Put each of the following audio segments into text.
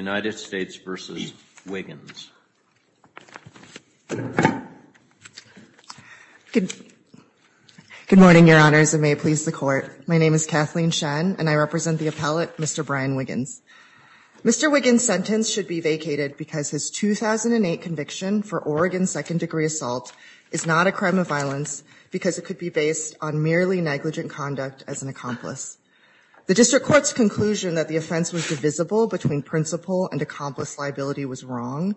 Good morning, Your Honors, and may it please the Court. My name is Kathleen Shen, and I represent the appellate, Mr. Brian Wiggins. Mr. Wiggins' sentence should be vacated because his 2008 conviction for Oregon second-degree assault is not a crime of violence because it could be based on merely negligent conduct as an accomplice. The District Court's conclusion that the offense was divisible between principal and accomplice liability was wrong.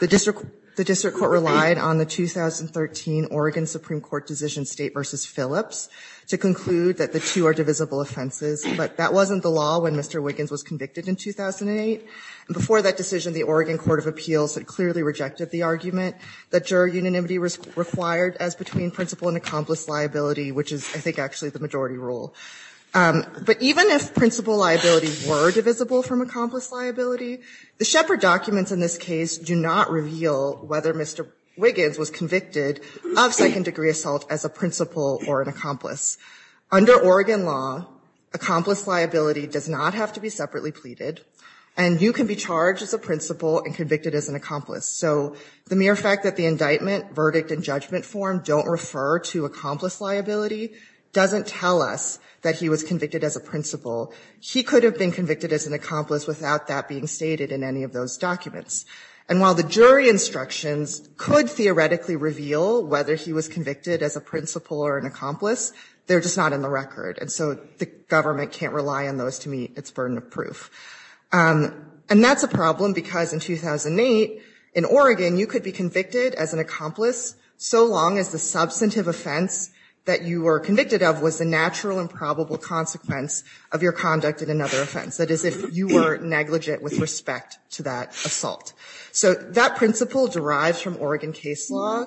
The District Court relied on the 2013 Oregon Supreme Court decision State v. Phillips to conclude that the two are divisible offenses, but that wasn't the law when Mr. Wiggins was convicted in 2008. Before that decision, the Oregon Court of Appeals had clearly rejected the argument that juror unanimity was required as between principal and accomplice liability, which is, I think, actually the majority rule. But even if principal liability were divisible from accomplice liability, the Shepard documents in this case do not reveal whether Mr. Wiggins was convicted of second-degree assault as a principal or an accomplice. Under Oregon law, accomplice liability does not have to be separately pleaded, and you can be charged as a principal and convicted as an accomplice. So the mere fact that the indictment, verdict, and judgment form don't refer to accomplice liability doesn't tell us that he was convicted as a principal. He could have been convicted as an accomplice without that being stated in any of those documents. And while the jury instructions could theoretically reveal whether he was convicted as a principal or an accomplice, they're just not in the record, and so the government can't rely on those to meet its burden of proof. And that's a problem because in 2008, in Oregon, you could be convicted as an accomplice so long as the substantive offense that you were convicted of was the natural and probable consequence of your conduct in another offense. That is, if you were negligent with respect to that assault. So that principle derives from Oregon case law.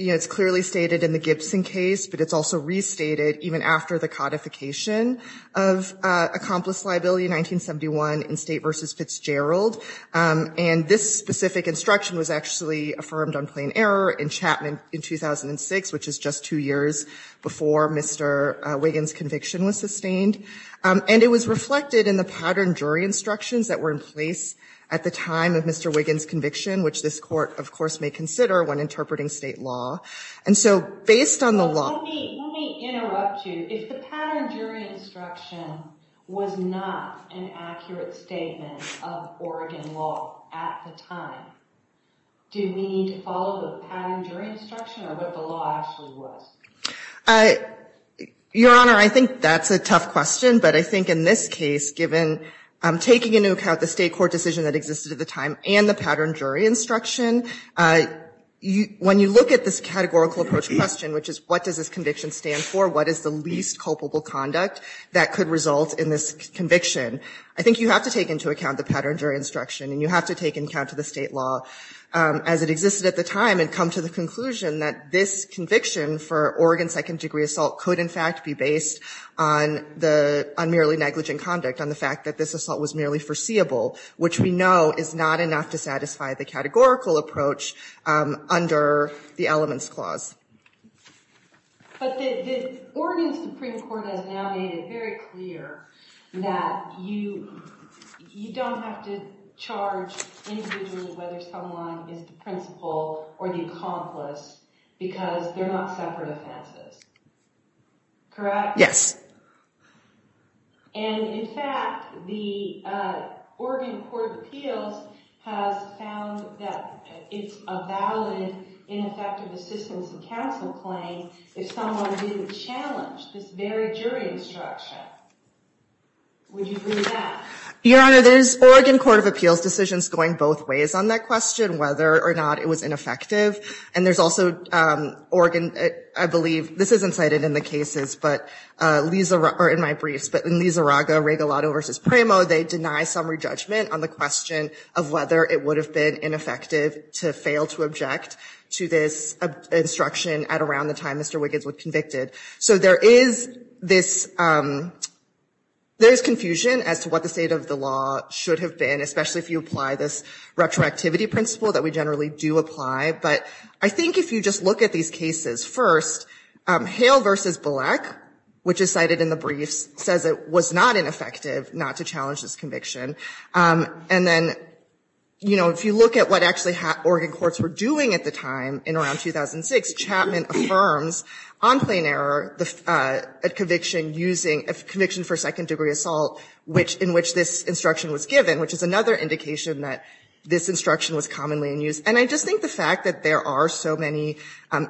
You know, it's clearly stated in the Gibson case, but it's also restated even after the codification of accomplice liability in 1971 in State v. Fitzgerald. And this specific instruction was actually affirmed on plain error in Chapman in 2006, which is just two years before Mr. Wiggins' conviction was sustained. And it was reflected in the pattern jury instructions that were in place at the time of Mr. Wiggins' conviction, which this court, of course, may consider when interpreting state law. And so based on the law Let me interrupt you. If the pattern jury instruction was not an accurate statement of Oregon law at the time, do we need to follow the pattern jury instruction or what the law actually was? Your Honor, I think that's a tough question, but I think in this case, given I'm taking into account the state court decision that existed at the time and the pattern jury instruction, when you look at this categorical approach question, which is what does this conviction stand for, what is the least culpable conduct that could result in this conviction, I think you have to take into account the pattern jury instruction and you have to take into account the state law as it existed at the time and come to the conclusion that this conviction for Oregon second degree assault could, in fact, be based on the unmerely negligent conduct, on the fact that this assault was merely foreseeable, which we know is not enough to satisfy the categorical approach that was in place at the time. But the Oregon Supreme Court has now made it very clear that you don't have to charge individually whether someone is the principal or the accomplice because they're not separate offenses, correct? Yes. And in fact, the Oregon Court of Appeals has found that it's a valid ineffective assistance in counsel claim if someone didn't challenge this very jury instruction. Would you agree with that? Your Honor, there's Oregon Court of Appeals decisions going both ways on that question, whether or not it was ineffective. And there's also Oregon, I believe, this isn't cited in the cases, but in my briefs, but in Lizarraga-Regalado v. Primo, they deny summary judgment on the question of whether it would have been ineffective to fail to object to this instruction at around the time Mr. Wiggins was convicted. So there is this, there's confusion as to what the state of the law should have been, especially if you apply this retroactivity principle that we generally do apply. But I think if you just look at these cases, first, Hale v. Bullock, which is cited in the briefs, says it was not ineffective not to challenge this conviction. And then, you know, if you look at what actually Oregon courts were doing at the time in around 2006, Chapman affirms on plain error a conviction using, a conviction for second-degree assault in which this instruction was given, which is another indication that this instruction was commonly in use. And I just think the fact that there are so many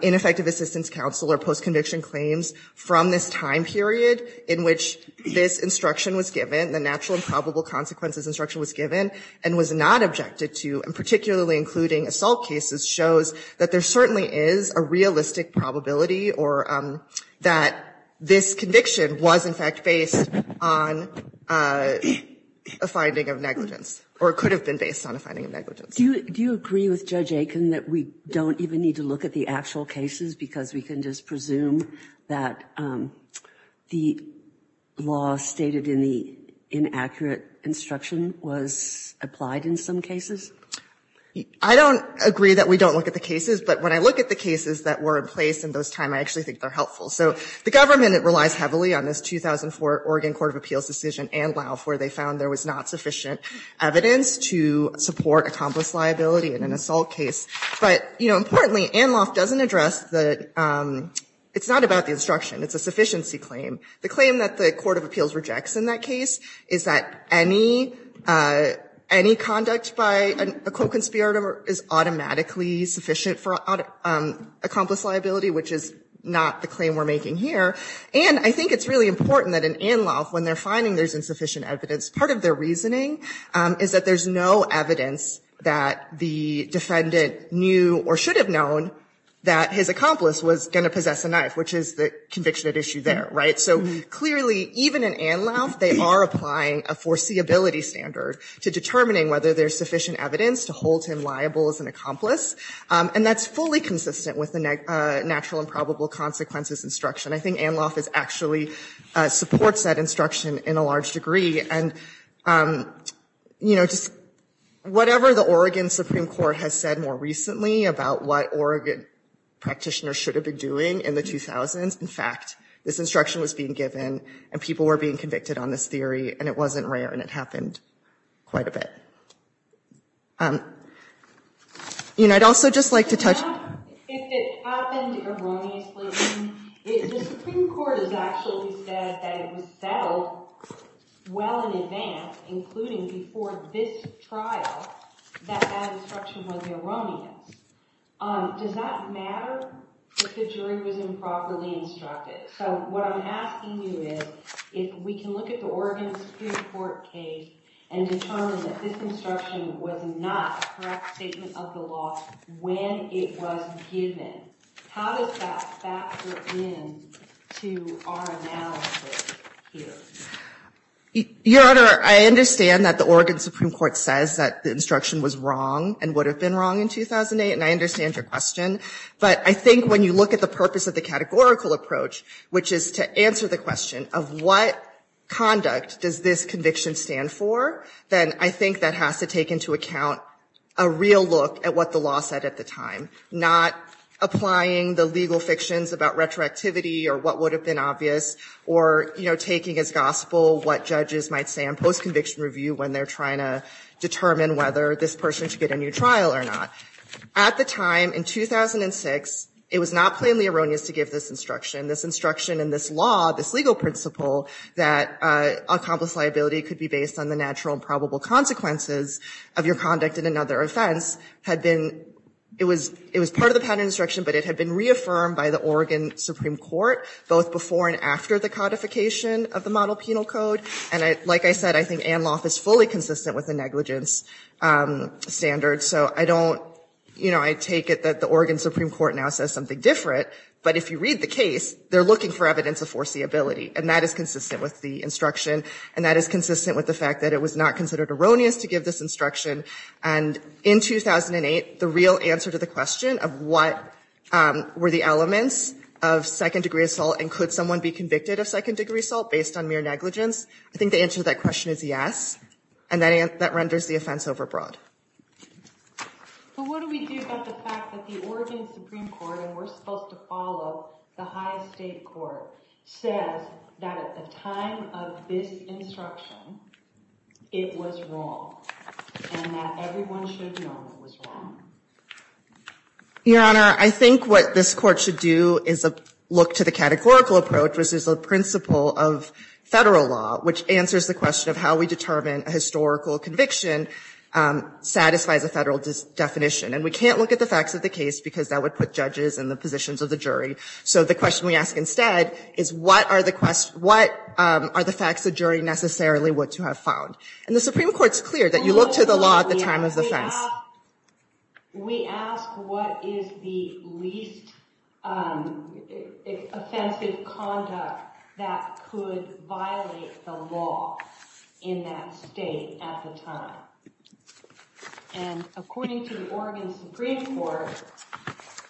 ineffective assistance counsel or post-conviction claims from this time period in which this instruction was given, the natural and probable consequences instruction was given and was not objected to, and particularly including assault cases, shows that there certainly is a realistic probability or that this conviction was, in fact, based on a finding of negligence or could have been based on a finding of negligence. Do you agree with Judge Aiken that we don't even need to look at the actual cases because we can just presume that the law stated in the inaccurate instruction was applied in some cases? I don't agree that we don't look at the cases, but when I look at the cases that were in place in those times, I actually think they're helpful. So the government relies heavily on this 2004 Oregon Court of Appeals decision, ANLOF, where they found there was not sufficient evidence to support accomplice liability in an assault case. But, you know, importantly, ANLOF doesn't address the, it's not about the instruction, it's a sufficiency claim. The claim that the Court of Appeals rejects in that case is that any conduct by a co-conspirator is automatically sufficient for accomplice liability, which is not the claim we're making here. And I think it's really important that in ANLOF, when they're finding there's insufficient evidence, part of their reasoning is that there's no evidence that the defendant knew or should have known that his accomplice was going to possess a knife, which is the conviction at issue there, right? So clearly, even in ANLOF, they are applying a foreseeability standard to determining whether there's sufficient evidence to hold him liable as an accomplice. And that's fully consistent with the natural and probable consequences instruction. I think ANLOF is actually, supports that instruction in a large degree. And, you know, just whatever the Oregon Supreme Court has said more recently about what Oregon practitioners should have been doing in the 2000s, in fact, this instruction was being given, and people were being convicted on this theory, and it wasn't rare, and it happened quite a bit. You know, I'd also just like to touch— If it happened erroneously, the Supreme Court has actually said that it was settled well in advance, including before this trial, that that instruction was erroneous. Does that matter if the jury was improperly instructed? So what I'm asking you is, if we can look at the Oregon Supreme Court case and determine that this instruction was not a correct statement of the law when it was given, how does that factor in to our analysis here? Your Honor, I understand that the Oregon Supreme Court says that the instruction was wrong and would have been wrong in 2008, and I understand your question. But I think when you look at the purpose of the categorical approach, which is to answer the question of what conduct does this conviction stand for, then I think that has to take into account a real look at what the law said at the time, not applying the legal fictions about retroactivity or what would have been obvious, or, you know, taking as gospel what judges might say on post-conviction review when they're trying to determine whether this person should get a new trial or not. At the time, in 2006, it was not plainly erroneous to give this instruction. This instruction and this law, this legal principle that accomplice liability could be based on the natural and probable consequences of your conduct in another offense had been, it was part of the patent instruction, but it had been reaffirmed by the Oregon Supreme Court, both before and after the codification of the Model Penal Code. And like I said, I think ANLOF is fully consistent with the negligence standard. So I don't, you know, I take it that the Oregon Supreme Court now says something different, but if you read the case, they're looking for evidence of foreseeability, and that is consistent with the instruction, and that is consistent with the fact that it was not considered erroneous to give this instruction. And in 2008, the real answer to the question of what were the elements of second-degree assault and could someone be convicted of second-degree assault based on mere negligence, I think the answer to that question is yes, and that renders the offense overbroad. But what do we do about the fact that the Oregon Supreme Court, and we're supposed to follow the highest state court, says that at the time of this instruction, it was wrong, and that everyone should know it was wrong? Your Honor, I think what this Court should do is look to the categorical approach versus the principle of Federal law, which answers the question of how we determine a historical conviction satisfies a Federal definition. And we can't look at the facts of the case because that would put judges in the positions of the jury. So the question we ask instead is what are the facts the jury necessarily would to have found? And the Supreme Court's clear that you look to the law at the time of the offense. We ask what is the least offensive conduct that could violate the law in that state at the time. And according to the Oregon Supreme Court,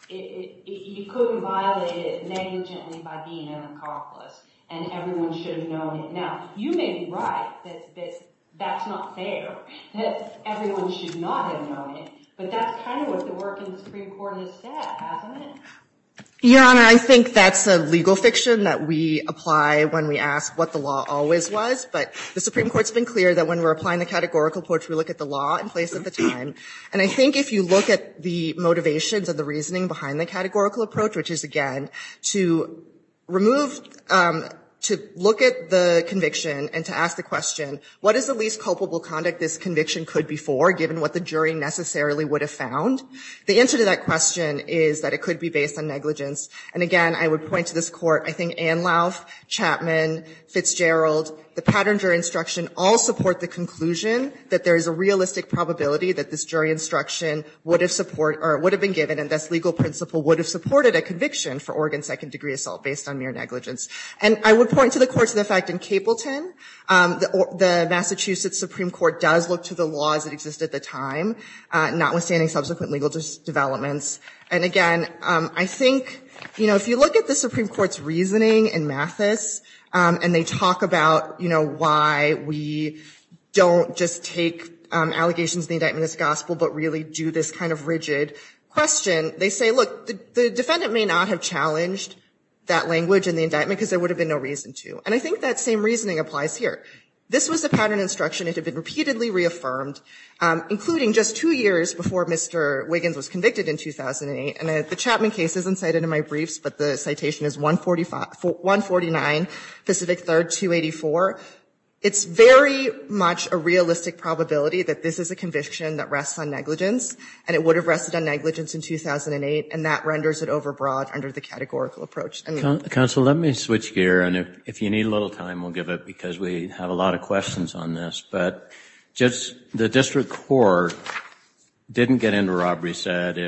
you couldn't violate it negligently by being an accomplice, and everyone should have known it. Now, you may be right that that's not fair, that everyone should not have known it. But that's kind of what the work in the Supreme Court has said, hasn't it? Your Honor, I think that's a legal fiction that we apply when we ask what the law always was. But the Supreme Court's been clear that when we're applying the categorical approach, we look at the law in place at the time. And I think if you look at the motivations and the reasoning behind the categorical approach, which is, again, to look at the conviction and to ask the question, what is the least culpable conduct this conviction could be for, given what the jury necessarily would have found? The answer to that question is that it could be based on negligence. And again, I would point to this Court. I think Anlauf, Chapman, Fitzgerald, the pattern jury instruction all support the conclusion that there is a realistic probability that this jury instruction would have been given and this legal principle would have supported a conviction for Oregon second-degree assault based on mere negligence. And I would point to the Court's effect in Capleton. The Massachusetts Supreme Court does look to the laws that exist at the time, notwithstanding subsequent legal developments. And again, I think, you know, if you look at the Supreme Court's reasoning in Mathis, and they talk about, you know, why we don't just take allegations in the indictment as gospel but really do this kind of rigid question, they say, look, the defendant may not have challenged that language in the indictment because there would have been no reason to. And I think that same reasoning applies here. This was a pattern instruction that had been repeatedly reaffirmed, including just two years before Mr. Wiggins was convicted in 2008. And the Chapman case isn't cited in my briefs, but the citation is 149, Pacific 3rd, 284. It's very much a realistic probability that this is a conviction that rests on negligence, and it would have rested on negligence in 2008, and that renders it overbroad under the categorical approach. Counsel, let me switch gear, and if you need a little time, we'll give it, because we have a lot of questions on this. But just the district court didn't get into a robbery set.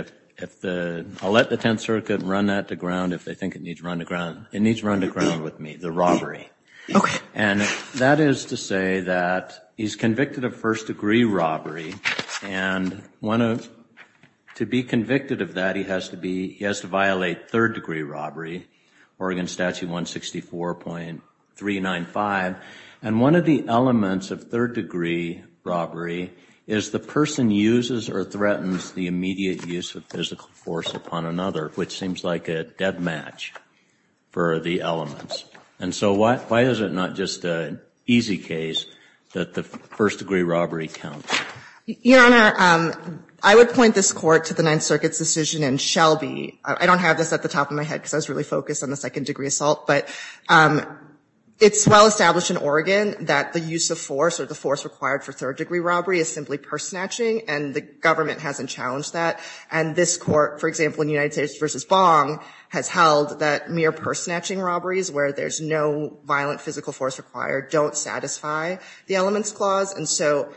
I'll let the Tenth Circuit run that to ground if they think it needs run to ground. It needs run to ground with me, the robbery. Okay. And that is to say that he's convicted of first-degree robbery, and to be convicted of that he has to violate third-degree robbery, Oregon Statute 164.395. And one of the elements of third-degree robbery is the person uses or threatens the immediate use of physical force upon another, which seems like a dead match for the elements. And so why is it not just an easy case that the first-degree robbery counts? Your Honor, I would point this court to the Ninth Circuit's decision in Shelby. I don't have this at the top of my head because I was really focused on the second-degree assault. But it's well established in Oregon that the use of force or the force required for third-degree robbery is simply purse snatching, and the government hasn't challenged that. And this court, for example, in United States v. Bong, has held that mere purse snatching robberies where there's no violent physical force required don't satisfy the elements clause. And so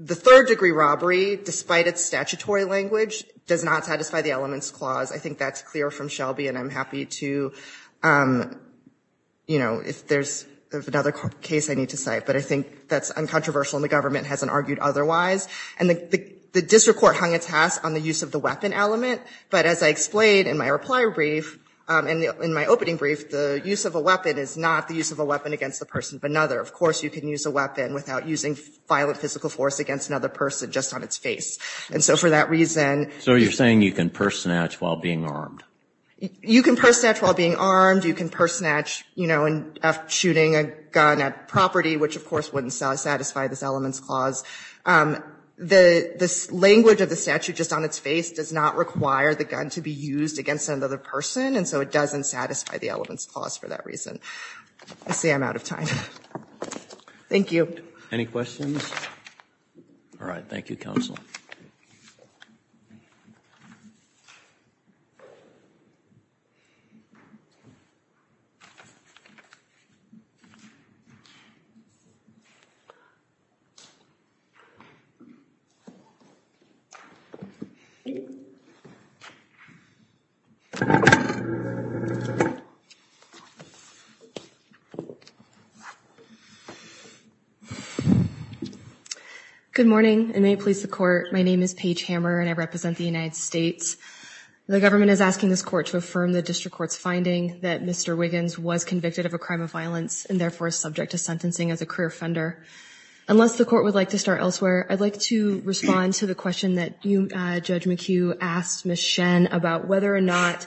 the third-degree robbery, despite its statutory language, does not satisfy the elements clause. I think that's clear from Shelby, and I'm happy to, you know, if there's another case I need to cite. But I think that's uncontroversial, and the government hasn't argued otherwise. And the district court hung its hat on the use of the weapon element. But as I explained in my reply brief and in my opening brief, the use of a weapon is not the use of a weapon against the person of another. Of course, you can use a weapon without using violent physical force against another person just on its face. And so for that reason you can purse snatch while being armed. You can purse snatch while being armed. You can purse snatch, you know, after shooting a gun at property, which of course wouldn't satisfy this elements clause. The language of the statute just on its face does not require the gun to be used against another person, and so it doesn't satisfy the elements clause for that reason. I see I'm out of time. Thank you. Any questions? All right. Thank you, counsel. Good morning, and may it please the court, my name is Paige Hammer, and I represent the United States. The government is asking this court to affirm the district court's finding that Mr. Wiggins was convicted of a crime of violence, and therefore is subject to sentencing as a career offender. Unless the court would like to start elsewhere, I'd like to respond to the question that Judge McHugh asked Ms. Shen about whether or not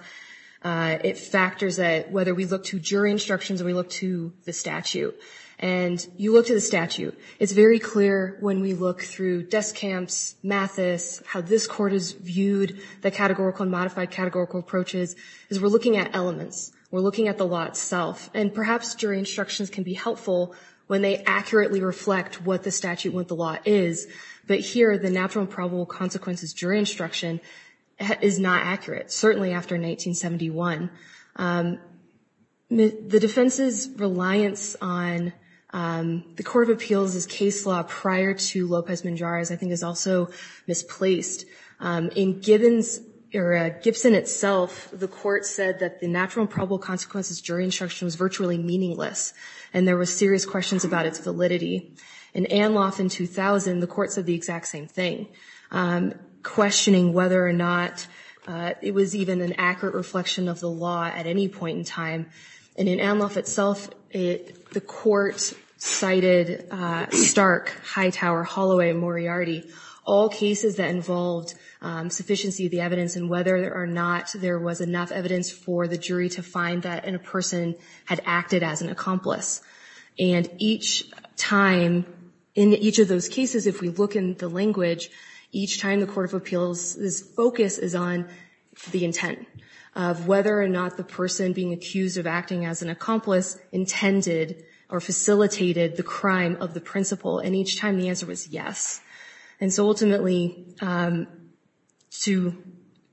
it factors whether we look to jury instructions or we look to the statute. And you look to the statute. It's very clear when we look through desk camps, Mathis, how this court has viewed the categorical and modified categorical approaches, is we're looking at elements. We're looking at the law itself. And perhaps jury instructions can be helpful when they accurately reflect what the statute with the law is. But here, the natural and probable consequences jury instruction is not accurate, certainly after 1971. The defense's reliance on the Court of Appeals' case law prior to Lopez Menjara's I think is also misplaced. In Gibson itself, the court said that the natural and probable consequences jury instruction was virtually meaningless, and there were serious questions about its validity. In Anloff in 2000, the court said the exact same thing, questioning whether or not it was even an accurate reflection of the law at any point in time. And in Anloff itself, the court cited Stark, Hightower, Holloway, and Moriarty, all cases that involved sufficiency of the evidence and whether or not there was enough evidence for the jury to find that a person had acted as an accomplice. And each time, in each of those cases, if we look in the language, each time the Court of Appeals' focus is on the intent of whether or not the person being accused of acting as an accomplice intended or facilitated the crime of the principle. And each time the answer was yes. And so ultimately, to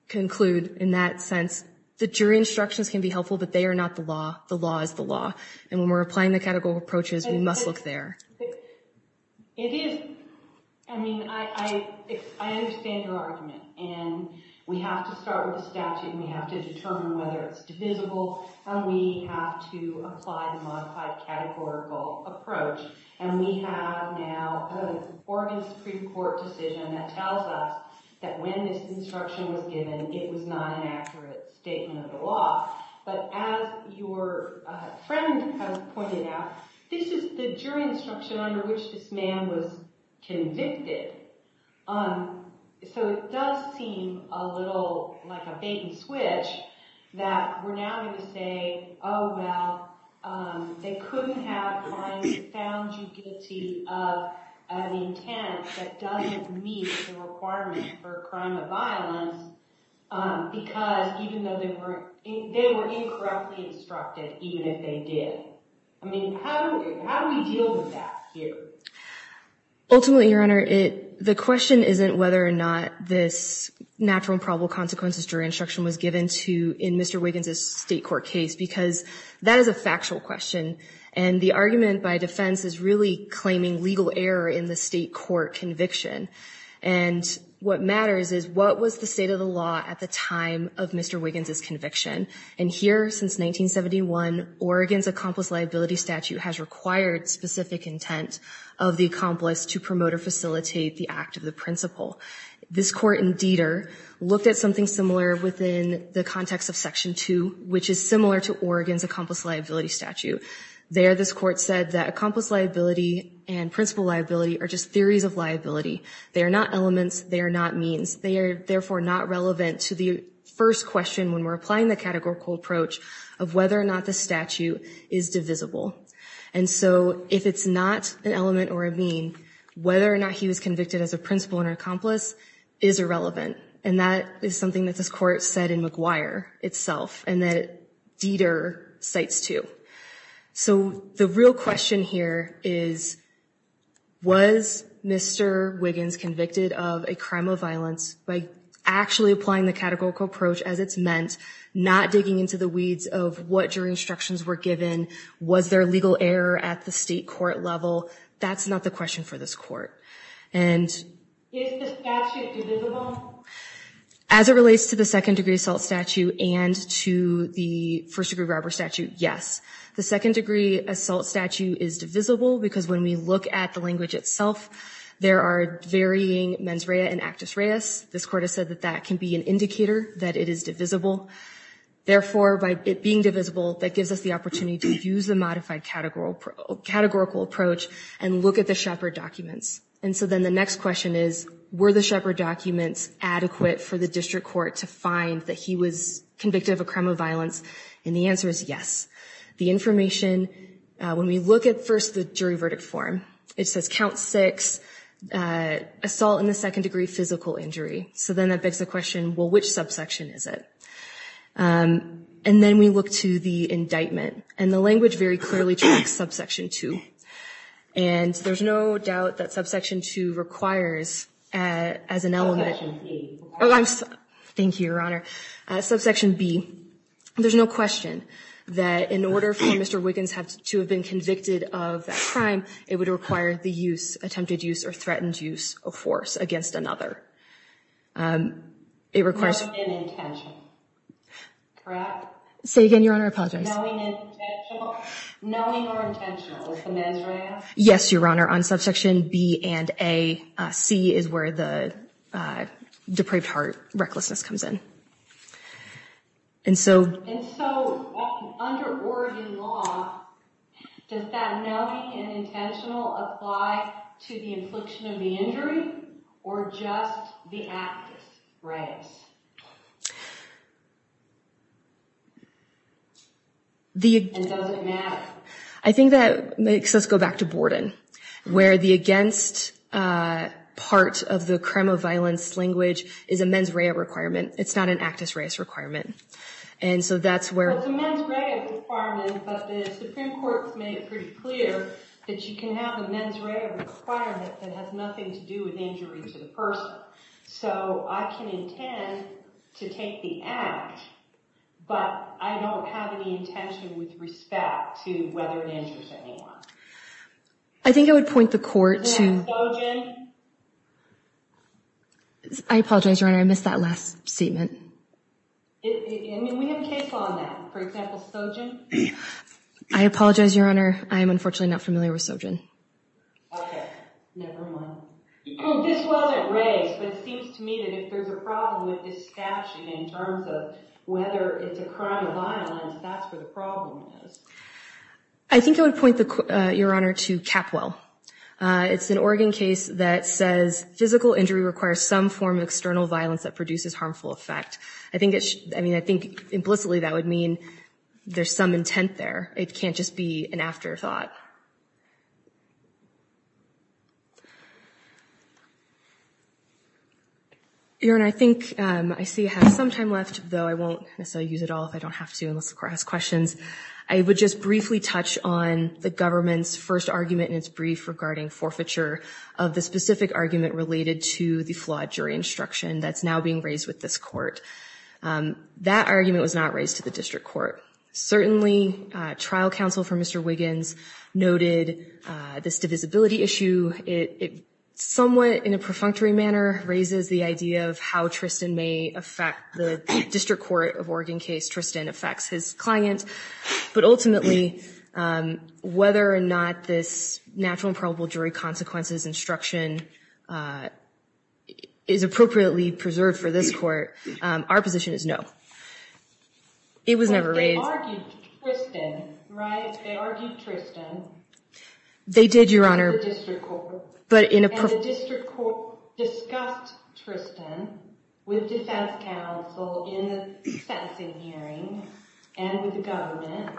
conclude in that sense, the jury instructions can be helpful, but they are not the law. The law is the law. And when we're applying the categorical approaches, we must look there. It is. I mean, I understand your argument. And we have to start with the statute, and we have to determine whether it's divisible, and we have to apply the modified categorical approach. And we have now an Oregon Supreme Court decision that tells us that when this instruction was given, it was not an accurate statement of the law. But as your friend has pointed out, this is the jury instruction under which this man was convicted. So it does seem a little like a bait and switch that we're now going to say, oh, well, they couldn't have found you guilty of an intent that doesn't meet the requirement for a crime of violence because even though they were incorrectly instructed, even if they did. I mean, how do we deal with that here? Ultimately, Your Honor, the question isn't whether or not this natural and probable consequences jury instruction was given to in Mr. Wiggins' state court case, because that is a factual question. And the argument by defense is really claiming legal error in the state court conviction. And what matters is, what was the state of the law at the time of Mr. Wiggins' conviction? And here, since 1971, Oregon's accomplice liability statute has required specific intent of the accomplice to promote or facilitate the act of the principal. This court in Deder looked at something similar within the context of Section 2, which is similar to Oregon's accomplice liability statute. There, this court said that accomplice liability and principal liability are just theories of liability. They are not elements. They are not means. They are, therefore, not relevant to the first question when we're applying the categorical approach of whether or not the statute is divisible. And so if it's not an element or a mean, whether or not he was convicted as a principal and an accomplice is irrelevant. And that is something that this court said in McGuire itself and that Deder cites too. So the real question here is, was Mr. Wiggins convicted of a crime of violence by actually applying the categorical approach as it's meant, not digging into the weeds of what jury instructions were given, was there legal error at the state court level? That's not the question for this court. Is the statute divisible? As it relates to the second degree assault statute and to the first degree robbery statute, yes. The second degree assault statute is divisible because when we look at the language itself, there are varying mens rea and actus reus. This court has said that that can be an indicator that it is divisible. Therefore, by it being divisible, that gives us the opportunity to use the And so then the next question is, were the Shepard documents adequate for the district court to find that he was convicted of a crime of violence? And the answer is yes. The information, when we look at first the jury verdict form, it says count six, assault in the second degree physical injury. So then that begs the question, well, which subsection is it? And then we look to the indictment. And the language very clearly tracks subsection two. And there's no doubt that subsection two requires as an element. Thank you, Your Honor. Subsection B, there's no question that in order for Mr. Wiggins to have been convicted of that crime, it would require the use, attempted use or threatened use of force against another. It requires. Say again, Your Honor, I apologize. Knowing or intentional? Yes, Your Honor. On subsection B and A, C is where the depraved heart recklessness comes in. And so under Oregon law, does that knowing and intentional apply to the infliction of the injury or just the actus reus? And does it matter? I think that makes us go back to Borden, where the against part of the crime of violence language is a mens rea requirement. It's not an actus reus requirement. And so that's where. Well, it's a mens rea requirement, but the Supreme Court has made it pretty clear that you can have a mens rea requirement that has nothing to do with injury to the person. So I can intend to take the act, but I don't have any intention with respect to whether it injures anyone. I think I would point the court to. Sojin. I apologize, Your Honor. I missed that last statement. We have a case on that. For example, Sojin. I apologize, Your Honor. I am unfortunately not familiar with Sojin. Okay. Never mind. This wasn't raised, but it seems to me that if there's a problem with this statute in terms of whether it's a crime of violence, that's where the problem is. I think I would point, Your Honor, to Capwell. It's an Oregon case that says physical injury requires some form of external violence that produces harmful effect. I mean, I think implicitly that would mean there's some intent there. It can't just be an afterthought. Your Honor, I think I see I have some time left, though I won't necessarily use it all if I don't have to unless the court has questions. I would just briefly touch on the government's first argument in its brief regarding forfeiture of the specific argument related to the flawed jury instruction that's now being raised with this court. That argument was not raised to the district court. Certainly, trial counsel for Mr. Wiggins noted this divisibility issue. It somewhat in a perfunctory manner raises the idea of how Tristan may affect the district court of Oregon case. Tristan affects his client. But ultimately, whether or not this natural and probable jury consequences instruction is appropriately preserved for this court, our position is no. It was never raised. They argued Tristan, right? They argued Tristan. They did, Your Honor. In the district court. And the district court discussed Tristan with defense counsel in the sentencing hearing and with the government.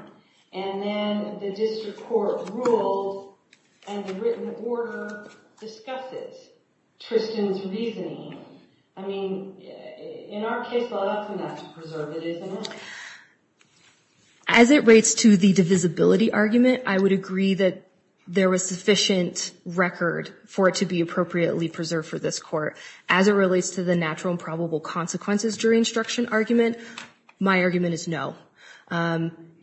And then the district court ruled and the written order discusses Tristan's reasoning. I mean, in our case, we'll have to preserve it, isn't it? As it relates to the divisibility argument, I would agree that there was sufficient record for it to be appropriately preserved for this court. As it relates to the natural and probable consequences jury instruction argument, my argument is no.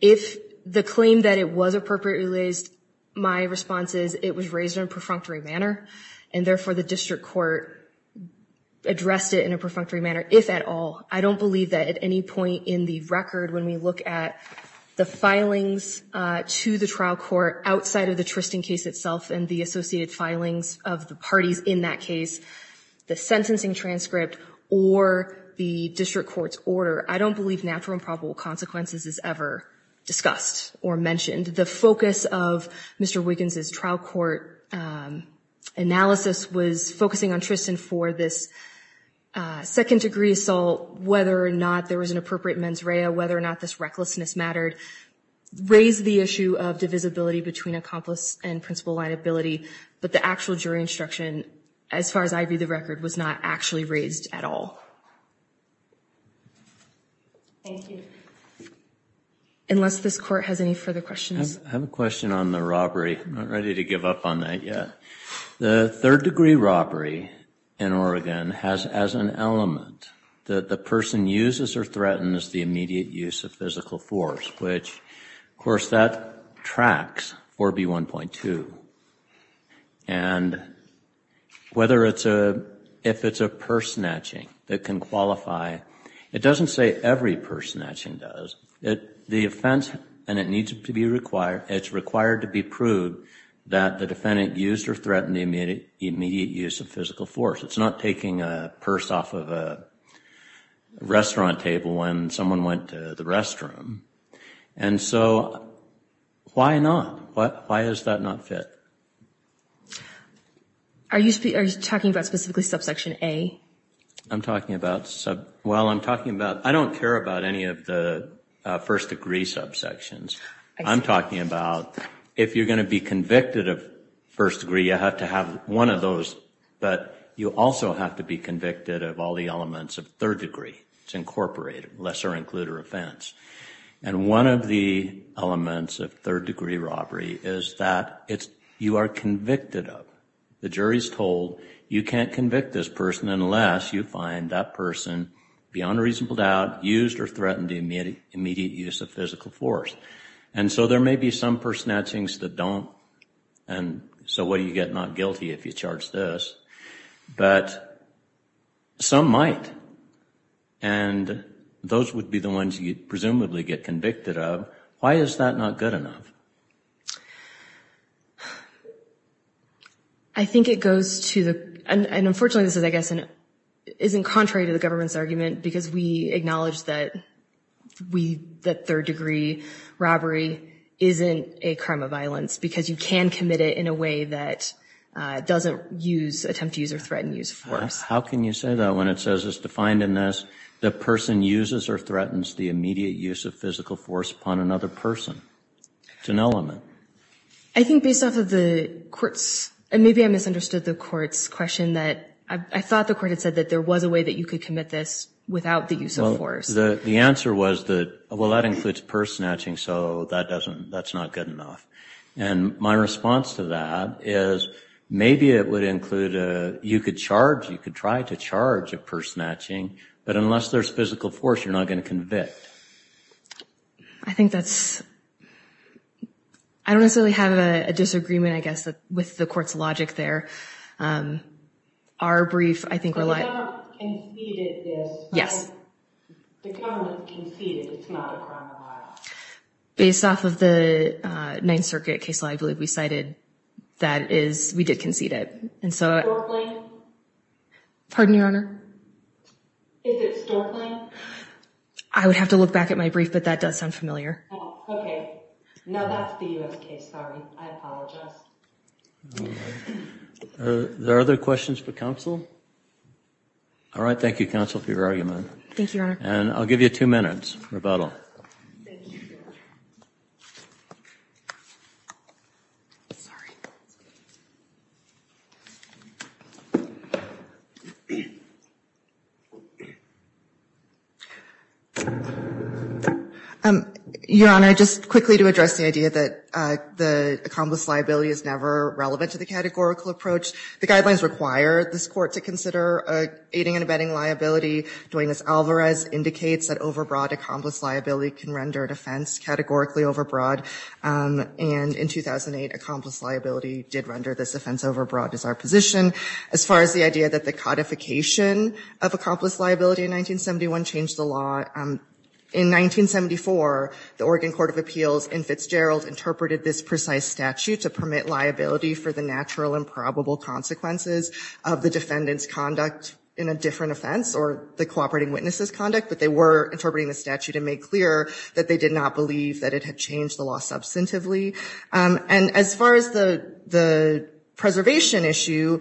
If the claim that it was appropriately raised, my response is it was raised in a perfunctory manner. And therefore, the district court addressed it in a perfunctory manner, if at all. I don't believe that at any point in the record, when we look at the filings to the trial court outside of the Tristan case itself and the associated filings of the parties in that case, the sentencing transcript or the district court's order, I don't believe natural and probable consequences is ever discussed or mentioned. And the focus of Mr. Wiggins' trial court analysis was focusing on Tristan for this second degree assault, whether or not there was an appropriate mens rea, whether or not this recklessness mattered, raised the issue of divisibility between accomplice and principal liability, but the actual jury instruction, as far as I view the record, was not actually raised at all. Thank you. Unless this court has any further questions. I have a question on the robbery. I'm not ready to give up on that yet. The third degree robbery in Oregon has as an element that the person uses or threatens the immediate use of physical force, which, of course, that tracks 4B1.2. And whether it's a, if it's a purse snatching that can qualify, it doesn't say every purse snatching does, the offense, and it needs to be required, it's required to be proved that the defendant used or threatened the immediate use of physical force. It's not taking a purse off of a restaurant table when someone went to the restroom. And so, why not? Why does that not fit? Are you talking about specifically subsection A? I'm talking about, well, I'm talking about, I don't care about any of the first degree subsections. I'm talking about if you're going to be convicted of first degree, you have to have one of those, but you also have to be convicted of all the elements of third degree. It's incorporated, lesser included offense. And one of the elements of third degree robbery is that it's, you are convicted of. The jury is told you can't convict this person unless you find that person, beyond a reasonable doubt, used or threatened the immediate use of physical force. And so there may be some purse snatchings that don't, and so what do you get not guilty if you charge this? But some might. And those would be the ones you'd presumably get convicted of. Why is that not good enough? I think it goes to the, and unfortunately this is, I guess, isn't contrary to the government's argument, because we acknowledge that we, that third degree robbery isn't a crime of violence, because you can commit it in a way that doesn't use, attempt to use or threaten use of force. How can you say that when it says it's defined in this, the person uses or threatens the immediate use of physical force upon another person? It's an element. I think based off of the court's, and maybe I misunderstood the court's question, that I thought the court had said that there was a way that you could commit this without the use of force. The answer was that, well, that includes purse snatching, so that doesn't, that's not good enough. And my response to that is, maybe it would include, you could charge, you could try to charge of purse snatching, but unless there's physical force, you're not going to convict. I think that's, I don't necessarily have a disagreement, I guess, with the court's logic there. Our brief, I think, relied... But the government conceded this. Yes. The government conceded it's not a crime of violence. Based off of the Ninth Circuit case law, I believe we cited, that is, we did concede it. And so... Stork Lane? Pardon, Your Honor? Is it Stork Lane? I would have to look back at my brief, but that does sound familiar. Oh, okay. Now that's the U.S. case. Sorry. I apologize. Are there other questions for counsel? All right. Thank you, counsel, for your argument. Thank you, Your Honor. And I'll give you two minutes, rebuttal. Thank you, Your Honor. Sorry. Your Honor, just quickly to address the idea that the accomplice liability is never relevant to the categorical approach. The guidelines require this court to consider aiding and abetting liability, doing as Alvarez indicates, that overbroad accomplice liability can render an offense categorically overbroad. And in 2008, accomplice liability did render this offense overbroad as our position. As far as the idea that the codification of accomplice liability in 1971 changed the law, in 1974, the Oregon Court of Appeals in Fitzgerald interpreted this precise statute to permit liability for the natural and probable consequences of the defendant's conduct in a different offense or the cooperating witness's conduct, but they were interpreting the statute and made clear that they did not believe that it had changed the law substantively. And as far as the preservation issue,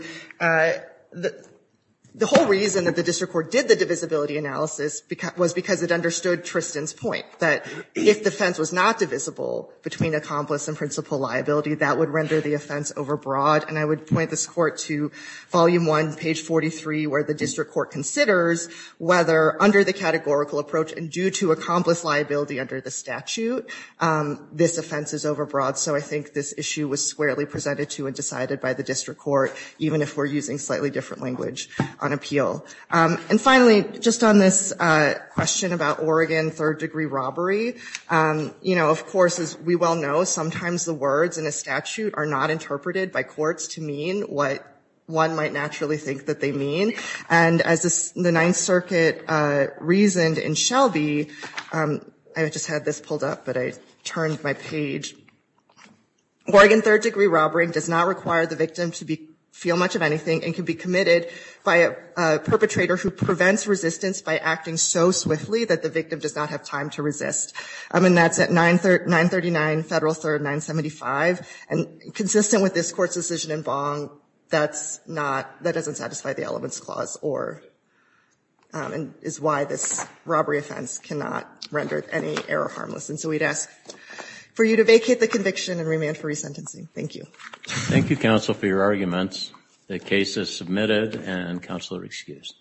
the whole reason that the district court did the divisibility analysis was because it understood Tristan's point, that if the offense was not divisible between accomplice and principal liability, that would render the offense overbroad. And I would point this court to volume 1, page 43, where the district court considers whether, under the categorical approach and due to accomplice liability under the statute, this offense is overbroad. So I think this issue was squarely presented to and decided by the district court, even if we're using slightly different language on appeal. And finally, just on this question about Oregon third-degree robbery, you know, of course, as we well know, sometimes the words in a statute are not interpreted by courts to mean what one might naturally think that they mean. And as the Ninth Circuit reasoned in Shelby, I just had this pulled up, but I turned my page. Oregon third-degree robbery does not require the victim to feel much of anything and can be committed by a perpetrator who prevents resistance by acting so swiftly that the victim does not have time to resist. I mean, that's at 939 Federal 3rd 975. And consistent with this Court's decision in Bong, that's not, that doesn't satisfy the elements clause or is why this robbery offense cannot render any error harmless. And so we'd ask for you to vacate the conviction and remand for resentencing. Thank you. Thank you, counsel, for your arguments. The case is submitted and counsel are excused.